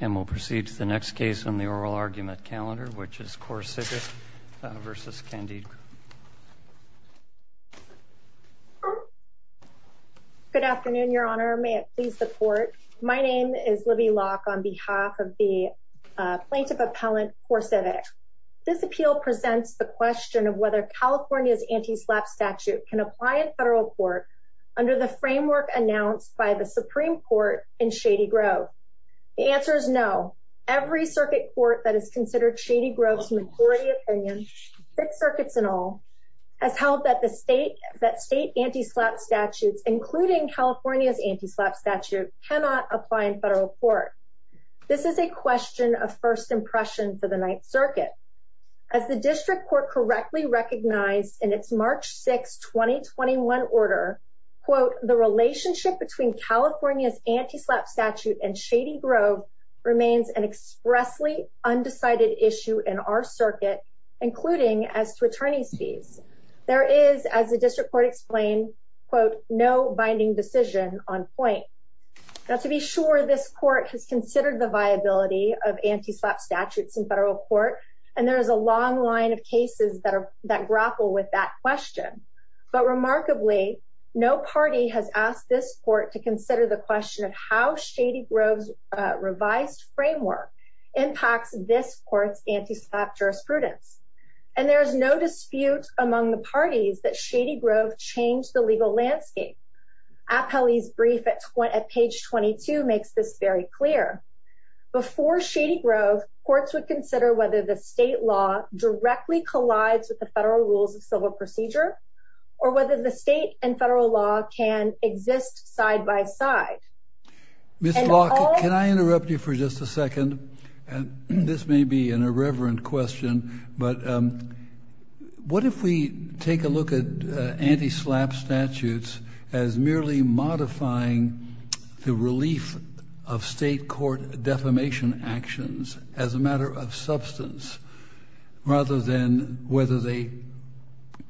And we'll proceed to the next case on the oral argument calendar, which is CorCivic v. Candide Group. Good afternoon, Your Honor. May it please the Court. My name is Libby Locke on behalf of the Plaintiff Appellant, CorCivic. This appeal presents the question of whether California's anti-SLAPP statute can apply in federal court under the framework announced by the Supreme Court in Shady Grove. The answer is no. Every circuit court that is considered Shady Grove's majority opinion, six circuits in all, has held that state anti-SLAPP statutes, including California's anti-SLAPP statute, cannot apply in federal court. This is a question of first impression for the Ninth Circuit. As the District Court correctly recognized in its March 6, 2021 order, quote, the relationship between California's anti-SLAPP statute and Shady Grove remains an expressly undecided issue in our circuit, including as to attorney's fees. There is, as the District Court explained, quote, no binding decision on point. Now, to be sure, this court has considered the viability of anti-SLAPP statutes in federal court, and there is a long line of cases that grapple with that question. But remarkably, no party has asked this court to consider the question of how Shady Grove's revised framework impacts this court's anti-SLAPP jurisprudence. And there is no dispute among the parties that Shady Grove changed the legal landscape. Appelli's brief at page 22 makes this very clear. Before Shady Grove, courts would consider whether the state law directly collides with the federal rules of civil procedure, or whether the state and federal law can exist side by side. Mr. Locke, can I interrupt you for just a second? And this may be an irreverent question, but what if we take a look at anti-SLAPP statutes as merely modifying the relief of state court defamation actions as a matter of substance, rather than whether they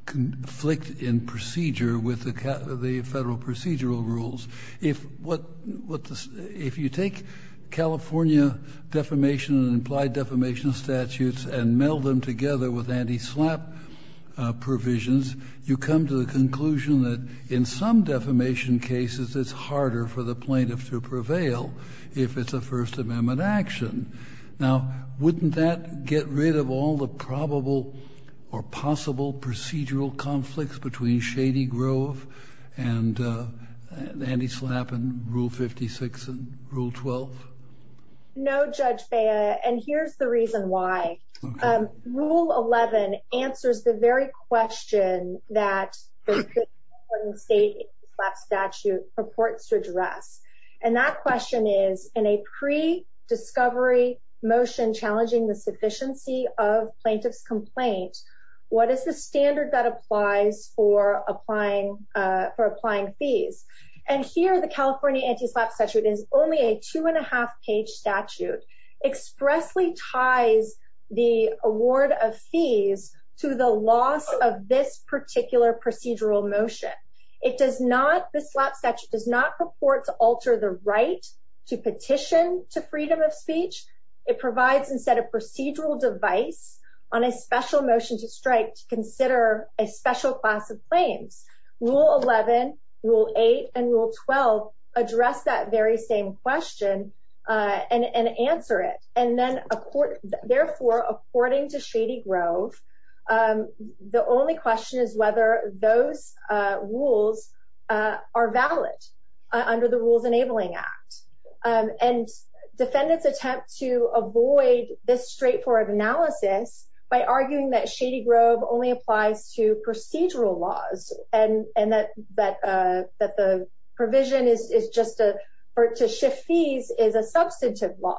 conflict in procedure with the federal procedural rules? If what the — if you take California defamation and implied defamation statutes and meld them together with anti-SLAPP provisions, you come to the conclusion that in some defamation cases it's harder for the plaintiff to prevail if it's a First Amendment action. Now, wouldn't that get rid of all the probable or possible procedural conflicts between Shady Grove and anti-SLAPP and Rule 56 and Rule 12? No, Judge Bea, and here's the reason why. Rule 11 answers the very question that the state anti-SLAPP statute purports to be a free discovery motion challenging the sufficiency of plaintiff's complaint. What is the standard that applies for applying — for applying fees? And here, the California anti-SLAPP statute is only a two-and-a-half-page statute, expressly ties the award of fees to the loss of this particular procedural motion. It does not — the SLAPP statute does not purport to alter the right to petition to freedom of speech. It provides, instead, a procedural device on a special motion to strike to consider a special class of claims. Rule 11, Rule 8, and Rule 12 address that very same question and answer it. And then, therefore, according to Shady Grove, the only question is whether those rules are valid under the Rules Enabling Act. And defendants attempt to avoid this straightforward analysis by arguing that Shady Grove only applies to procedural laws and that — that the provision is just a — or to shift fees is a substantive law.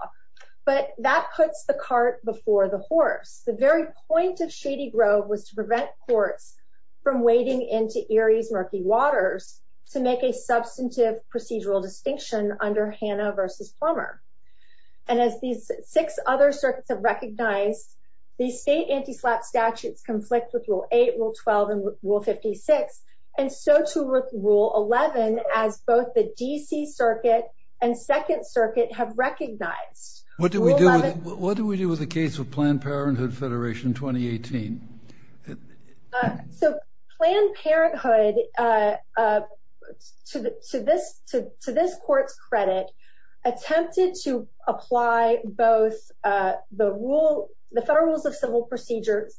But that puts the cart before the horse. The very point of Shady Grove was to prevent courts from wading into Erie's murky waters to make a substantive procedural distinction under Hannah v. Plummer. And as these six other circuits have recognized, these state anti-SLAPP statutes conflict with Rule 8, Rule 12, and Rule 56, and so too with Rule 11, as both the D.C. Circuit and Second Circuit have recognized. What do we do — what do we do with the case of Planned Parenthood Federation 2018? So Planned Parenthood, to this court's credit, attempted to apply both the rule — the federal rules of civil procedure,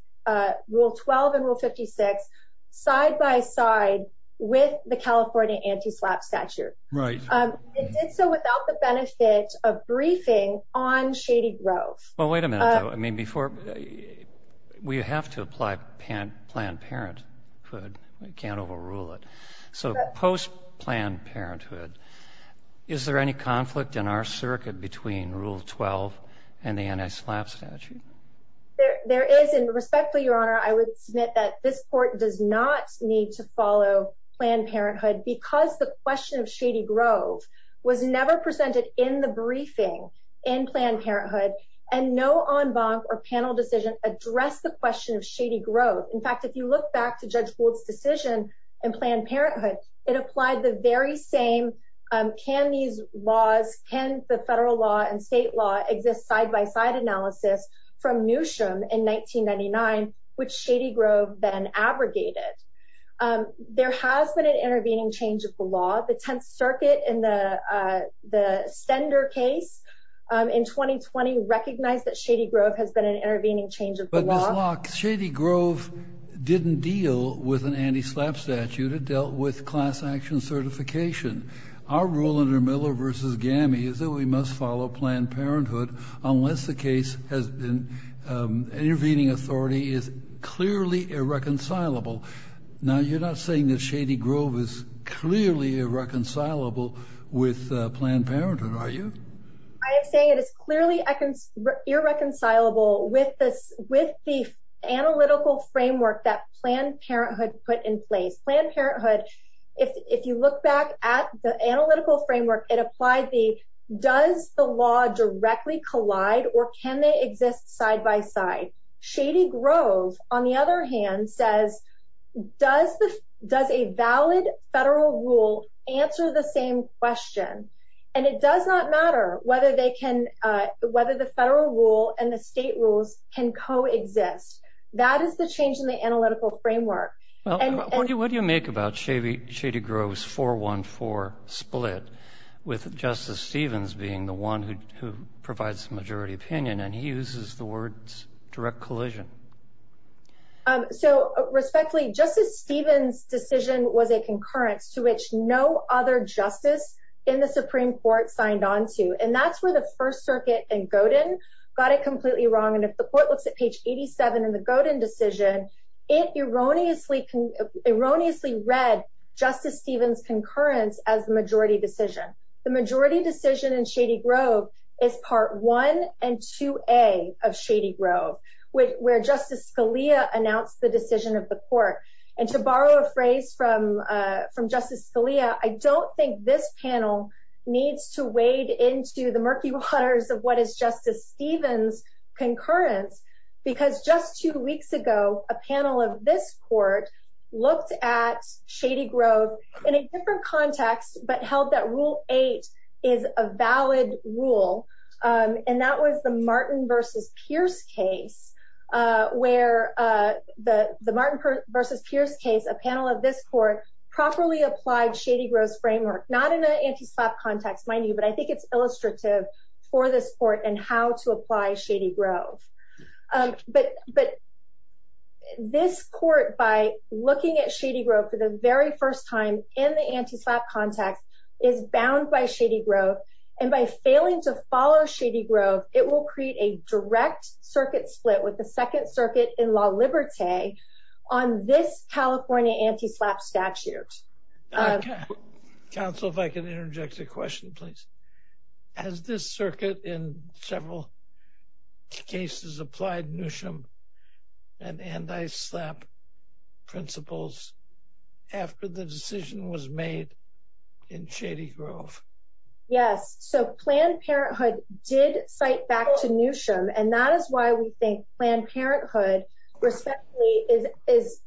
Rule 12 and Rule 56, side by side with the California anti-SLAPP statute. Right. It did so without the benefit of briefing on Shady Grove. Well, wait a minute, though. I mean, before — we have to apply Planned Parenthood. We can't overrule it. So post-Planned Parenthood, is there any conflict in our circuit between Rule 12 and the anti-SLAPP statute? There is. And respectfully, Your Honor, I would submit that this court does not need to follow Planned Parenthood because the question of Shady Grove was never presented in the briefing in Planned Parenthood. And no en banc or panel decision addressed the question of Shady Grove. In fact, if you look back to Judge Gould's decision in Planned Parenthood, it applied the very same, can these laws, can the federal law and state law exist side by side analysis from Newsham in 1999, which Shady Grove then abrogated. There has been an intervening change of the law. The 10th Circuit in the Stender case in 2020 recognized that Shady Grove has been an intervening change of the law. But, Ms. Locke, Shady Grove didn't deal with an anti-SLAPP statute. It dealt with class action certification. Our rule under Miller v. Gammy is that we must follow Planned Parenthood unless the case has been — an intervening authority is clearly irreconcilable. Now, you're not saying that Shady Grove is clearly irreconcilable with Planned Parenthood, are you? I am saying it is clearly irreconcilable with the analytical framework that Planned Parenthood put in place. Planned Parenthood, if you look back at the analytical framework, it applied the, does the law directly collide or can they exist side by side? Shady Grove, on the other hand, says, does a valid federal rule answer the same question? And it does not matter whether they can — whether the federal rule and the state rules can coexist. That is the change in the analytical framework. Well, what do you make about Shady Grove's 4-1-4 split, with Justice Stevens being the opinion, and he uses the words direct collision? So respectfully, Justice Stevens' decision was a concurrence to which no other justice in the Supreme Court signed on to. And that's where the First Circuit and Godin got it completely wrong. And if the court looks at page 87 in the Godin decision, it erroneously read Justice Stevens' concurrence as the majority decision. The majority decision in Shady Grove is part 1 and 2a of Shady Grove, where Justice Scalia announced the decision of the court. And to borrow a phrase from Justice Scalia, I don't think this panel needs to wade into the murky waters of what is Justice Stevens' concurrence, because just two weeks ago, a panel of this court looked at Shady Grove in a different context, but held that Rule 8 is a valid rule. And that was the Martin v. Pierce case, where the Martin v. Pierce case, a panel of this court, properly applied Shady Grove's framework, not in an anti-slap context, mind you, but I think it's illustrative for this court and how to apply Shady Grove. But this court, by looking at Shady Grove for the very first time in the anti-slap context, is bound by Shady Grove. And by failing to follow Shady Grove, it will create a direct circuit split with the Second Circuit in La Liberté on this California anti-slap statute. Counsel, if I can interject a question, please. Has this circuit in several cases applied Newsham and anti-slap principles after the decision was made in Shady Grove? Yes, so Planned Parenthood did cite back to Newsham, and that is why we think Planned Parenthood is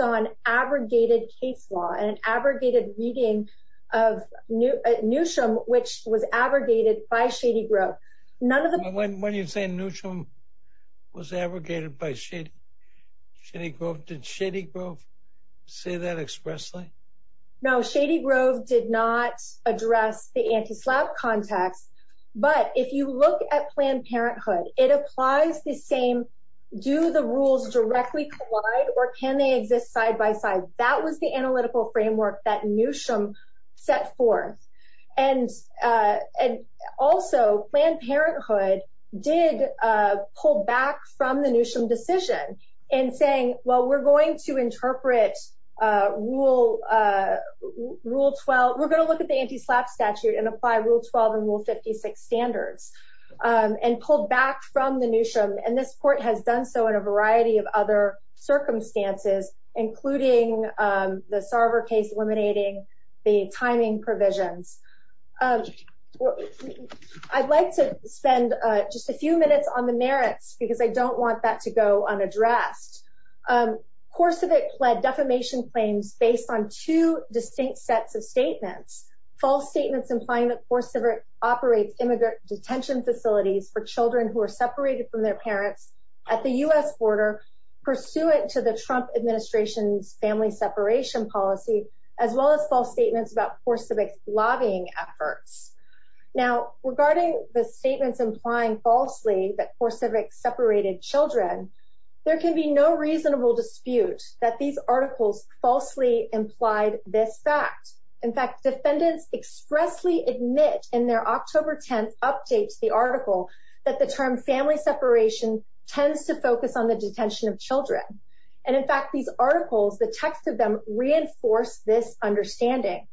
an abrogated case law and an abrogated reading of Newsham, which was abrogated by Shady Grove. None of the... When you say Newsham was abrogated by Shady Grove, did Shady Grove say that expressly? No, Shady Grove did not address the anti-slap context. But if you look at Planned Parenthood, it applies the same. Do the rules directly collide or can they exist side by side? That was the analytical framework that Newsham set forth. And also, Planned Parenthood did pull back from the Newsham decision in saying, well, we're going to interpret Rule 12. We're going to look at the anti-slap statute and apply Rule 12 and Rule 56 standards and pull back from the Newsham. And this court has done so in a variety of other circumstances, including the Sarver case eliminating the timing provisions. I'd like to spend just a few minutes on the merits because I don't want that to go unaddressed. Korsavik pled defamation claims based on two distinct sets of statements, false statements implying that Korsavik operates immigrant detention facilities for children who are separated from their parents at the U.S. border pursuant to the Trump administration's family separation policy, as well as false statements about Korsavik's lobbying efforts. Now, regarding the statements implying falsely that Korsavik separated children, there can be no reasonable dispute that these articles falsely implied this fact. In fact, defendants expressly admit in their October 10th update to the article that the term family separation tends to focus on the detention of children. And in fact, these articles, the text of them, reinforce this understanding.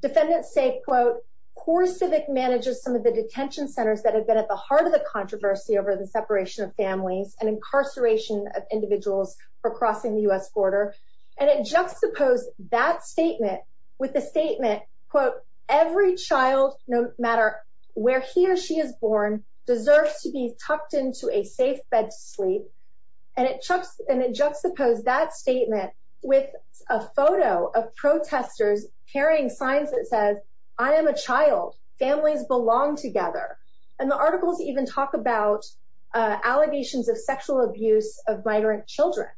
Defendants say, quote, Korsavik manages some of the detention centers that have been at the heart of the controversy over the separation of families and incarceration of individuals for crossing the U.S. In a statement, quote, every child, no matter where he or she is born, deserves to be tucked into a safe bed to sleep. And it juxtaposed that statement with a photo of protesters carrying signs that says, I am a child, families belong together. And the articles even talk about allegations of sexual abuse of migrant children.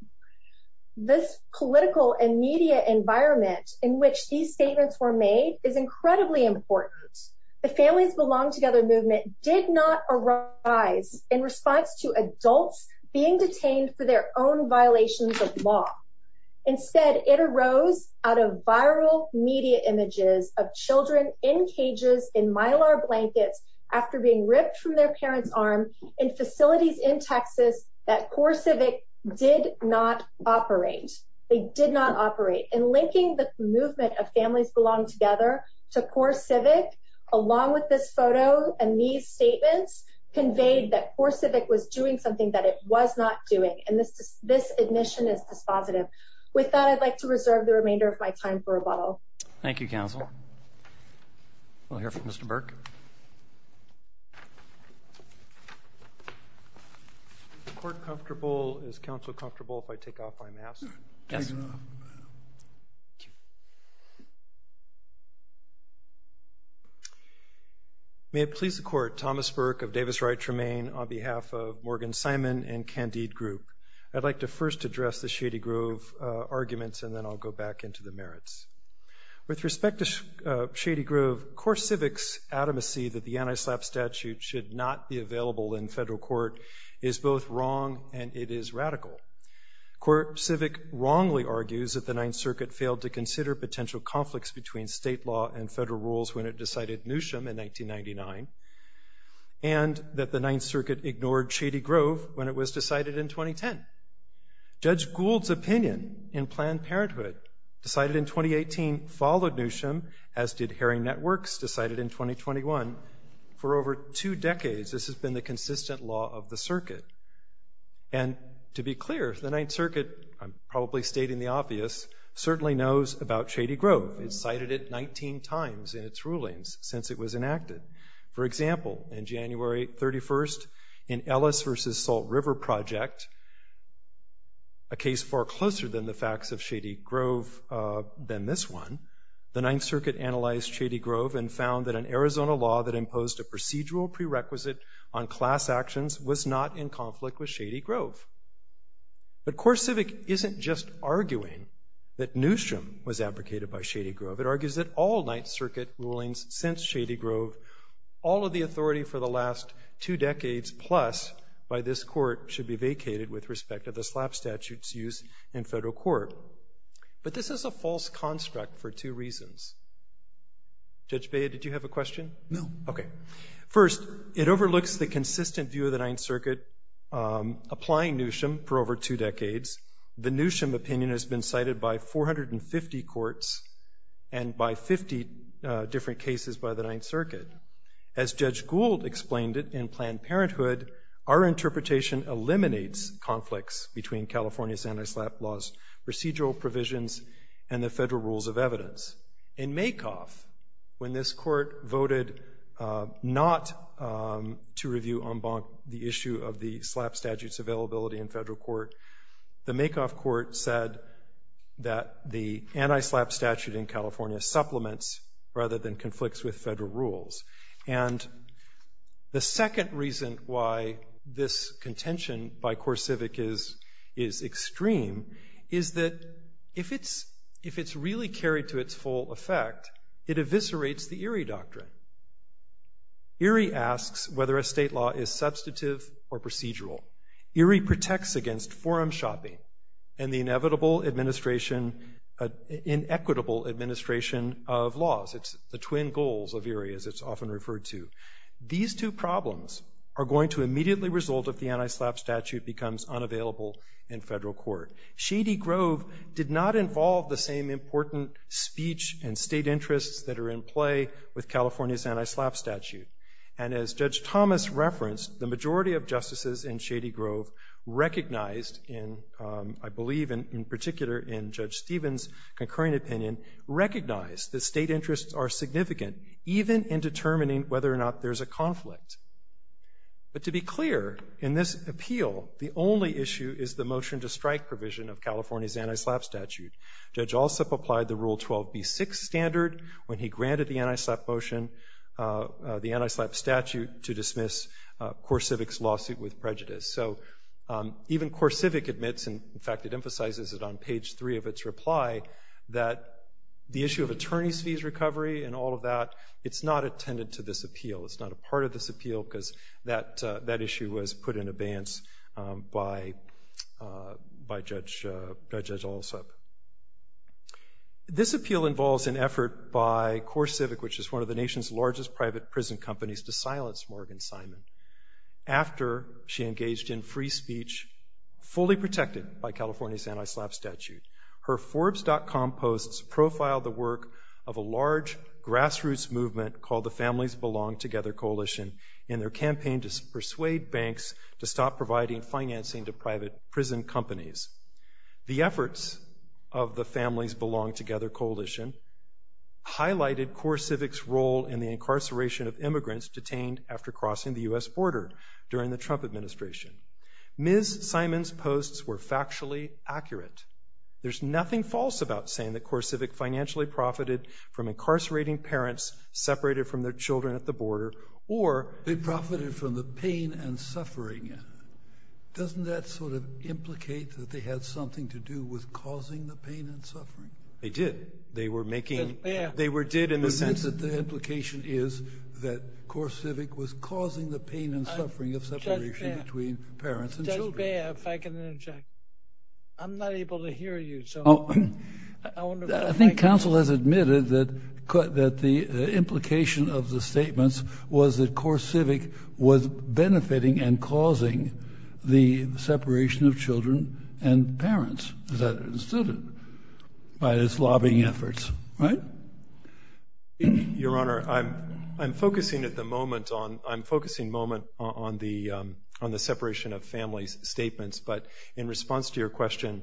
This political and media environment in which these statements were made is incredibly important. The families belong together movement did not arise in response to adults being detained for their own violations of law. Instead, it arose out of viral media images of children in cages in Mylar blankets after being ripped from their parents arm in facilities in Texas that Korsavik did not operate. They did not operate. And linking the movement of families belong together to Korsavik, along with this photo and these statements, conveyed that Korsavik was doing something that it was not doing. And this this admission is dispositive. With that, I'd like to reserve the remainder of my time for rebuttal. Thank you, counsel. We'll hear from Mr. Burke. Is the court comfortable? Is counsel comfortable if I take off my mask? Yes. May it please the court, Thomas Burke of Davis Wright Tremaine on behalf of Morgan Simon and Candide Group. I'd like to first address the Shady Grove arguments and then I'll go back into the adamacy that the anti-SLAPP statute should not be available in federal court is both wrong and it is radical. Korsavik wrongly argues that the Ninth Circuit failed to consider potential conflicts between state law and federal rules when it decided Newsham in 1999 and that the Ninth Circuit ignored Shady Grove when it was decided in 2010. Judge Gould's opinion in Planned Parenthood decided in 2018 followed Newsham, as did 2021. For over two decades, this has been the consistent law of the circuit. And to be clear, the Ninth Circuit, I'm probably stating the obvious, certainly knows about Shady Grove. It cited it 19 times in its rulings since it was enacted. For example, in January 31st, in Ellis versus Salt River Project, a case far closer than the facts of Shady Grove than this one, the Ninth Circuit analyzed Shady Grove and found that an Arizona law that imposed a procedural prerequisite on class actions was not in conflict with Shady Grove. But Korsavik isn't just arguing that Newsham was advocated by Shady Grove, it argues that all Ninth Circuit rulings since Shady Grove, all of the authority for the last two decades plus by this court should be vacated with respect to the SLAPP statute's use in federal court. But this is a false construct for two reasons. Judge Bea, did you have a question? No. OK. First, it overlooks the consistent view of the Ninth Circuit applying Newsham for over two decades. The Newsham opinion has been cited by 450 courts and by 50 different cases by the Ninth Circuit. As Judge Gould explained it in Planned Parenthood, our interpretation eliminates conflicts between California's anti-SLAPP laws, procedural provisions and the federal rules of evidence. In Makoff, when this court voted not to review en banc the issue of the SLAPP statute's availability in federal court, the Makoff court said that the anti-SLAPP statute in California supplements rather than conflicts with federal rules. And the second reason why this contention by Korsavik is extreme is that if it's really carried to its full effect, it eviscerates the Erie doctrine. Erie asks whether a state law is substantive or procedural. Erie protects against forum shopping and the inevitable administration, inequitable administration of laws. It's the twin goals of Erie, as it's often referred to. These two problems are going to immediately result if the anti-SLAPP statute becomes unavailable in federal court. Shady Grove did not involve the same important speech and state interests that are in play with California's anti-SLAPP statute. And as Judge Thomas referenced, the majority of justices in Shady Grove recognized in, I believe in particular in Judge Stevens' concurring opinion, recognized that state interests are significant even in determining whether or not there's a conflict. But to be clear, in this appeal, the only issue is the motion to strike provision of California's anti-SLAPP statute. Judge Alsup applied the Rule 12b6 standard when he granted the anti-SLAPP motion, the anti-SLAPP statute, to dismiss Korsavik's lawsuit with prejudice. So even Korsavik admits, and in fact it emphasizes it on page three of its reply, that the issue of attorney's fees recovery and all of that, it's not attended to this appeal. It's not a part of this appeal because that issue was put in abeyance by Judge Alsup. This appeal involves an effort by Korsavik, which is one of the nation's largest private prison companies, to silence Morgan Simon after she engaged in free speech fully protected by California's anti-SLAPP statute. Her Forbes.com posts profile the work of a large grassroots movement called the Belong Together Coalition and their campaign to persuade banks to stop providing financing to private prison companies. The efforts of the Families Belong Together Coalition highlighted Korsavik's role in the incarceration of immigrants detained after crossing the U.S. border during the Trump administration. Ms. Simon's posts were factually accurate. There's nothing false about saying that Korsavik financially profited from the border or they profited from the pain and suffering. Doesn't that sort of implicate that they had something to do with causing the pain and suffering? They did. They were making, they were did in the sense that the implication is that Korsavik was causing the pain and suffering of separation between parents. I'm not able to hear you. Oh, I think council has admitted that that the implication of the statements was that Korsavik was benefiting and causing the separation of children and parents. Is that understood by this lobbying efforts? Right. Your Honor, I'm I'm focusing at the moment on I'm focusing moment on the on the separation of families statements. But in response to your question,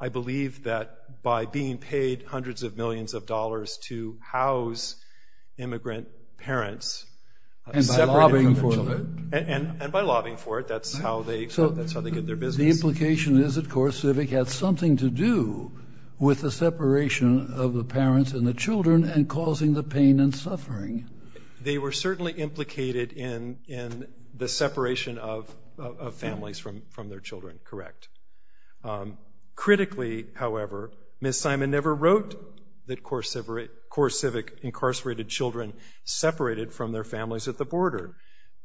I believe that by being paid hundreds of millions of dollars to house immigrant parents and by lobbying for it, that's how they, that's how they get their business. The implication is, of course, Korsavik had something to do with the separation of the parents and the children and causing the pain and suffering. They were certainly implicated in in the separation of of families from from their children. Correct. Critically, however, Ms. Simon never wrote that Korsavik incarcerated children separated from their families at the border.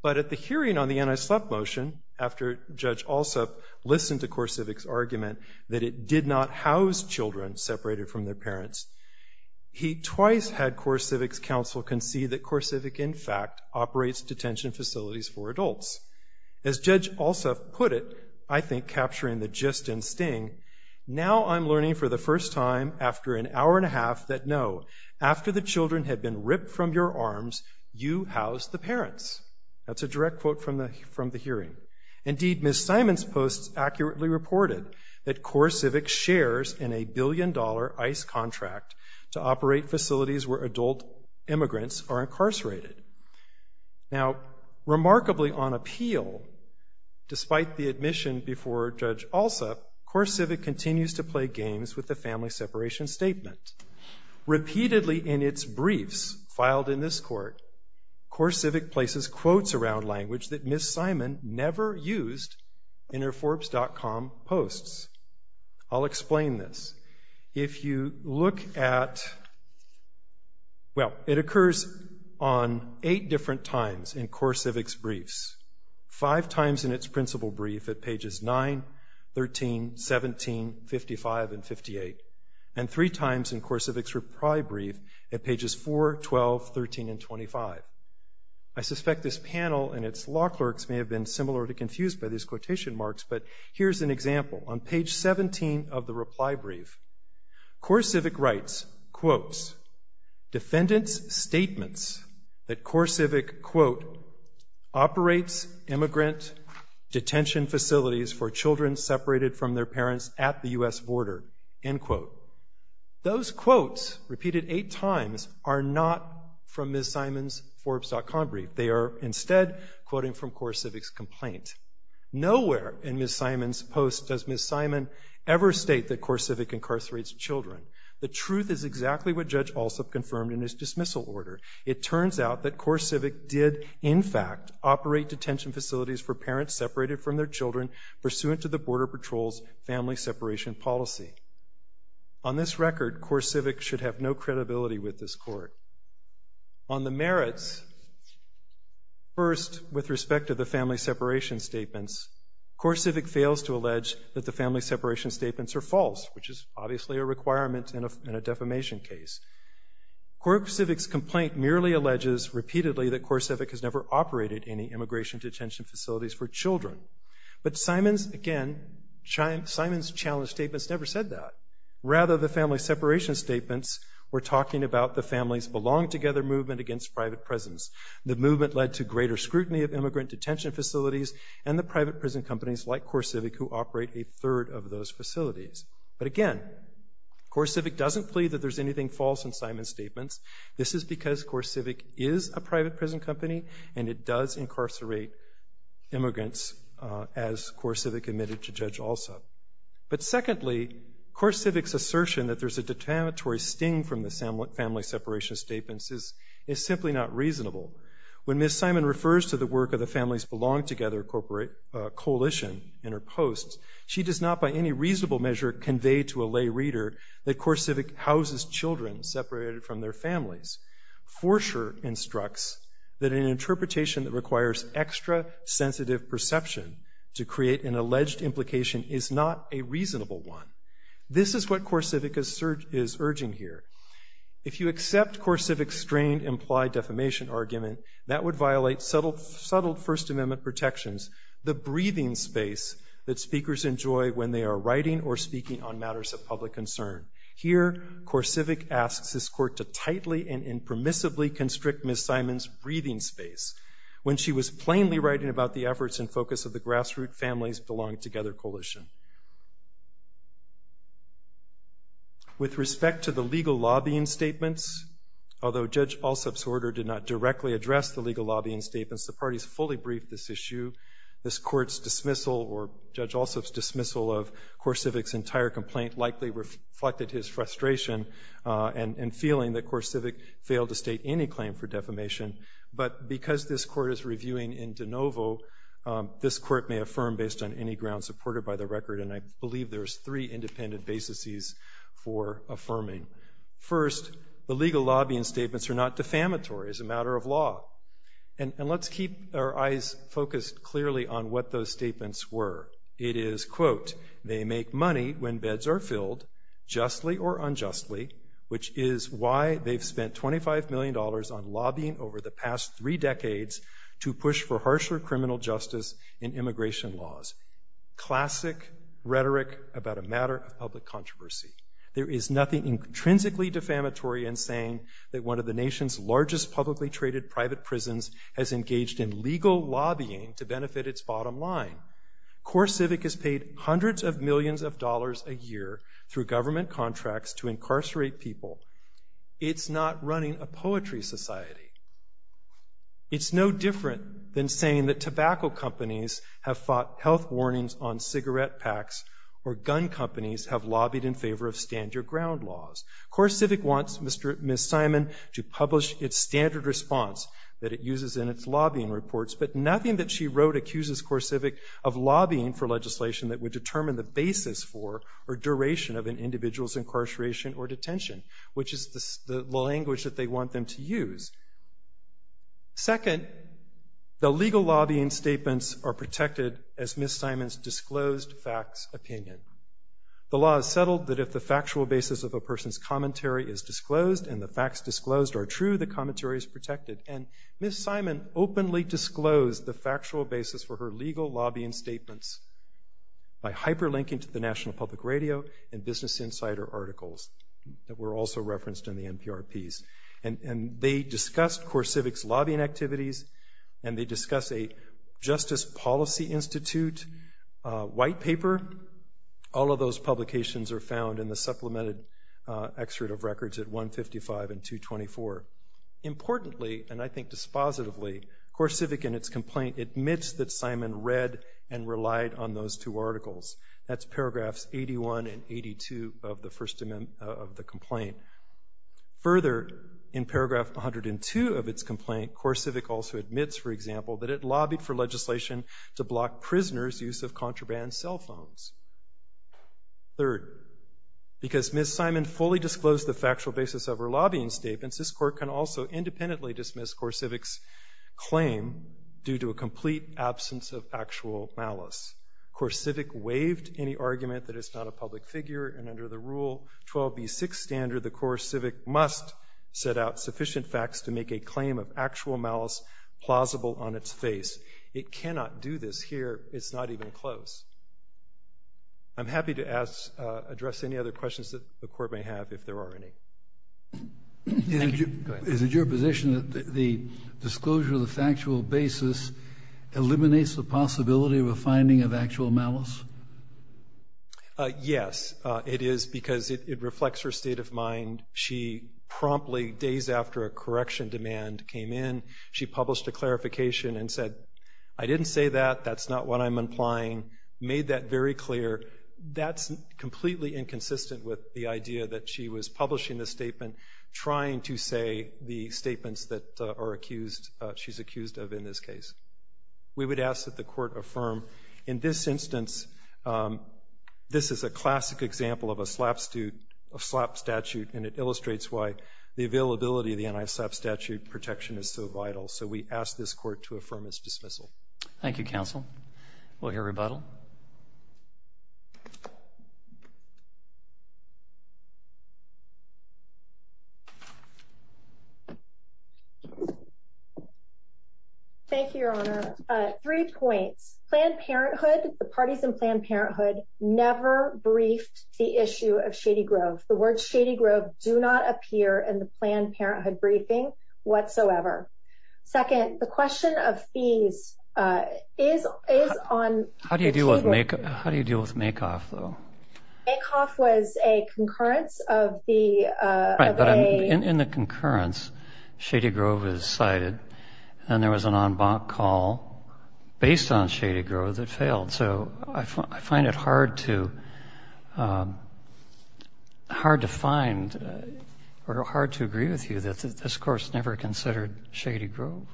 But at the hearing on the anti-slap motion, after Judge Alsup listened to Korsavik's argument that it did not house children separated from their parents, he twice had Korsavik's counsel concede that Korsavik, in fact, operates detention facilities for adults. As Judge Alsup put it, I think capturing the gist and sting, now I'm learning for the first time after an hour and a half that no, after the children had been ripped from your arms, you housed the parents. That's a direct quote from the from the hearing. Indeed, Ms. Simon's posts accurately reported that Korsavik shares in a billion dollar ICE contract to operate facilities where adult immigrants are incarcerated. Now, remarkably, on appeal, despite the admission before Judge Alsup, Korsavik continues to play games with the family separation statement. Repeatedly in its briefs filed in this court, Korsavik places quotes around language that Ms. Simon never used in her Forbes.com posts. I'll explain this. If you look at, well, it occurs on eight different times in Korsavik's briefs, five times in its principal brief at pages 9, 13, 17, 55, and 58, and three times in Korsavik's reply brief at pages 4, 12, 13, and 25. I suspect this panel and its law clerks may have been similarly confused by these quotation marks, but here's an example. On page 17 of the reply brief, Korsavik writes, quotes, defendant's statements that Korsavik, quote, operates immigrant detention facilities for children separated from their parents at the U.S. border, end quote. Those quotes repeated eight times are not from Ms. Simon's Forbes.com brief. They are instead quoting from Korsavik's complaint. Nowhere in Ms. Simon's posts does Ms. Simon ever state that Korsavik incarcerates children. The truth is exactly what Judge Alsop confirmed in his dismissal order. It turns out that Korsavik did, in fact, operate detention facilities for parents separated from their children pursuant to the Border Patrol's family separation policy. On this record, Korsavik should have no credibility with this court. On the merits, first, with respect to the family separation statements, Korsavik fails to allege that the family separation statements are false, which is obviously a requirement in a defamation case. Korsavik's complaint merely alleges repeatedly that Korsavik has never operated any immigration detention facilities for children. But Simon's, again, Simon's challenge statements never said that. Rather, the family separation statements were talking about the families belong together movement against private prisons. The movement led to greater scrutiny of immigrant detention facilities and the private prison companies like Korsavik, who operate a third of those facilities. But again, Korsavik doesn't plead that there's anything false in Simon's statements. This is because Korsavik is a private prison company and it does incarcerate immigrants, as Korsavik admitted to Judge Alsop. But secondly, Korsavik's assertion that there's a determinatory sting from the family separation statements is simply not reasonable. When Ms. Simon refers to the work of the Families Belong Together Coalition in her post, she does not by any reasonable measure convey to a lay reader that Korsavik houses children separated from their families. Forsher instructs that an interpretation that requires extra sensitive perception to be heard is not a reasonable one. This is what Korsavik is urging here. If you accept Korsavik's strained implied defamation argument, that would violate subtle First Amendment protections, the breathing space that speakers enjoy when they are writing or speaking on matters of public concern. Here, Korsavik asks this court to tightly and impermissibly constrict Ms. Simon's breathing space when she was plainly writing about the efforts and focus of the Grassroot Families Belong Together Coalition. With respect to the legal lobbying statements, although Judge Alsop's order did not directly address the legal lobbying statements, the parties fully briefed this issue. This court's dismissal or Judge Alsop's dismissal of Korsavik's entire complaint likely reflected his frustration and feeling that Korsavik failed to state any claim for defamation. But because this court is reviewing in de novo, this court may affirm based on any supported by the record, and I believe there's three independent basises for affirming. First, the legal lobbying statements are not defamatory as a matter of law. And let's keep our eyes focused clearly on what those statements were. It is, quote, they make money when beds are filled, justly or unjustly, which is why they've spent $25 million on lobbying over the past three decades to push for harsher criminal justice and immigration laws. Classic rhetoric about a matter of public controversy. There is nothing intrinsically defamatory in saying that one of the nation's largest publicly traded private prisons has engaged in legal lobbying to benefit its bottom line. Korsavik has paid hundreds of millions of dollars a year through government contracts to incarcerate people. It's not running a poetry society. It's no different than saying that tobacco companies have fought health warnings on cigarette packs or gun companies have lobbied in favor of stand your ground laws. Korsavik wants Ms. Simon to publish its standard response that it uses in its lobbying reports. But nothing that she wrote accuses Korsavik of lobbying for legislation that would determine the basis for or duration of an individual's incarceration or detention, which is the language that they want them to use. Second, the legal lobbying statements are protected as Ms. Simon's disclosed facts opinion. The law is settled that if the factual basis of a person's commentary is disclosed and the facts disclosed are true, the commentary is protected. And Ms. Simon openly disclosed the factual basis for her legal lobbying statements by hyperlinking to the National Public Radio and Business Insider articles that were also referenced in the NPR piece. And they discussed Korsavik's lobbying activities and they discuss a Justice Policy Institute white paper. All of those publications are found in the supplemented excerpt of records at 155 and 224. Importantly, and I think dispositively, Korsavik in its complaint admits that Simon read and relied on those two articles. Further, in paragraph 102 of its complaint, Korsavik also admits, for example, that it lobbied for legislation to block prisoners' use of contraband cell phones. Third, because Ms. Simon fully disclosed the factual basis of her lobbying statements, this court can also independently dismiss Korsavik's claim due to a complete absence of actual malice. Korsavik waived any argument that it's not a public figure. And under the Rule 12B6 standard, the Korsavik must set out sufficient facts to make a claim of actual malice plausible on its face. It cannot do this here. It's not even close. I'm happy to address any other questions that the court may have if there are any. Is it your position that the disclosure of the factual basis eliminates the possibility of a finding of actual malice? Yes, it is because it reflects her state of mind. She promptly, days after a correction demand came in, she published a clarification and said, I didn't say that, that's not what I'm implying, made that very clear. That's completely inconsistent with the idea that she was publishing the statement trying to say the statements that are accused, she's accused of in this case. We would ask that the court affirm. In this instance, this is a classic example of a SLAPP statute, and it illustrates why the availability of the anti-SLAPP statute protection is so vital. So we ask this court to affirm its dismissal. Thank you, counsel. We'll hear rebuttal. Thank you, Your Honor. Three points. Planned Parenthood, the parties in Planned Parenthood never briefed the issue of Shady Grove. The words Shady Grove do not appear in the Planned Parenthood briefing whatsoever. Second, the question of fees is on. How do you deal with MAKOF, though? MAKOF was a concurrence of the. In the concurrence, Shady Grove was cited and there was an en banc call based on Shady Grove that failed. So I find it hard to hard to find or hard to agree with you that this course never considered Shady Grove.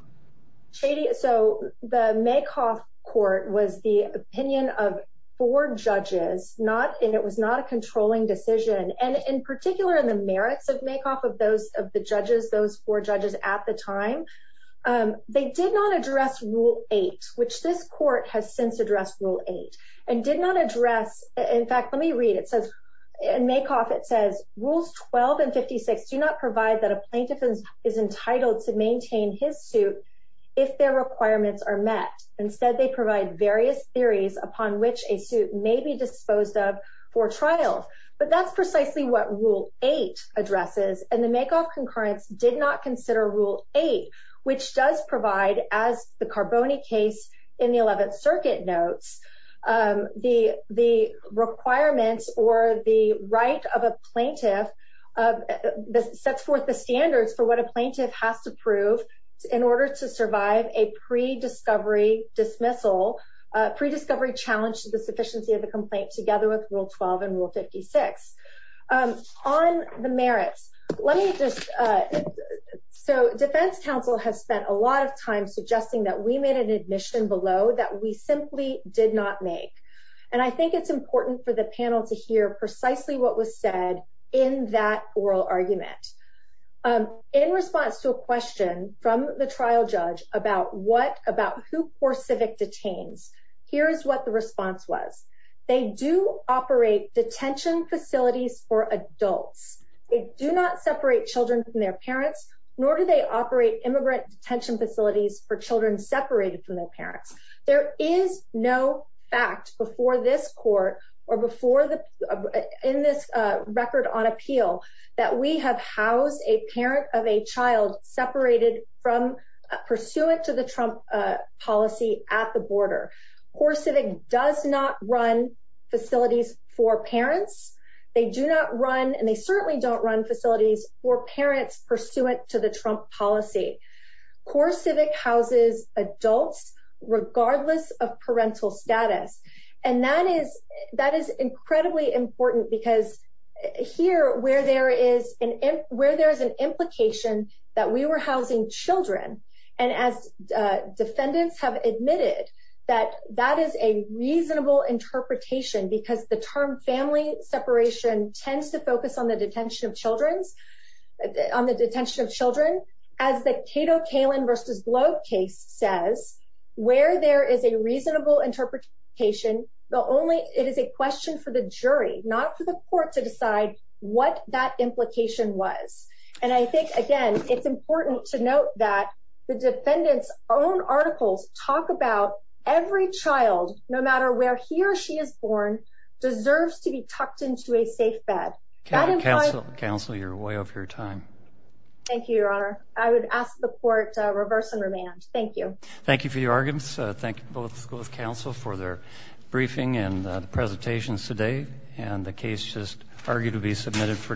Shady. So the MAKOF court was the opinion of four judges, not and it was not a controlling decision. And in particular, in the merits of MAKOF of those of the judges, those four judges at the time, they did not address Rule 8, which this court has since addressed Rule 8 and did not address. In fact, let me read it says in MAKOF it says Rules 12 and 56 do not provide that a suit if their requirements are met. Instead, they provide various theories upon which a suit may be disposed of for trial. But that's precisely what Rule 8 addresses. And the MAKOF concurrence did not consider Rule 8, which does provide, as the Carboni case in the 11th Circuit notes, the the requirements or the right of a plaintiff sets forth the standards for what a plaintiff has to prove in order to survive a pre-discovery dismissal, pre-discovery challenge to the sufficiency of the complaint together with Rule 12 and Rule 56. On the merits, let me just so Defense Council has spent a lot of time suggesting that we made an admission below that we simply did not make. And I think it's important for the panel to hear precisely what was said in that oral argument in response to a question from the trial judge about what about who poor civic detains. Here's what the response was. They do operate detention facilities for adults. They do not separate children from their parents, nor do they operate immigrant detention facilities for children separated from their parents. There is no fact before this court or before the in this record on appeal that we have housed a parent of a child separated from pursuant to the Trump policy at the border. Poor civic does not run facilities for parents. They do not run and they certainly don't run facilities for parents pursuant to the Trump policy. Poor civic houses adults regardless of parental status. And that is that is incredibly important because here where there is an where there is an implication that we were housing children and as defendants have admitted that that is a reasonable interpretation because the term family separation tends to focus on the detention of children. As the Cato Kaelin versus Globe case says, where there is a reasonable interpretation, the only it is a question for the jury, not for the court to decide what that implication was. And I think, again, it's important to note that the defendants own articles talk about every child, no matter where he or she is born, deserves to be tucked into a safe bed. Counsel, counsel, you're way off your time. Thank you, Your Honor. I would ask the court to reverse and remand. Thank you. Thank you for your arguments. Thank you both. Both counsel for their briefing and presentations today. And the case just argued to be submitted for decision.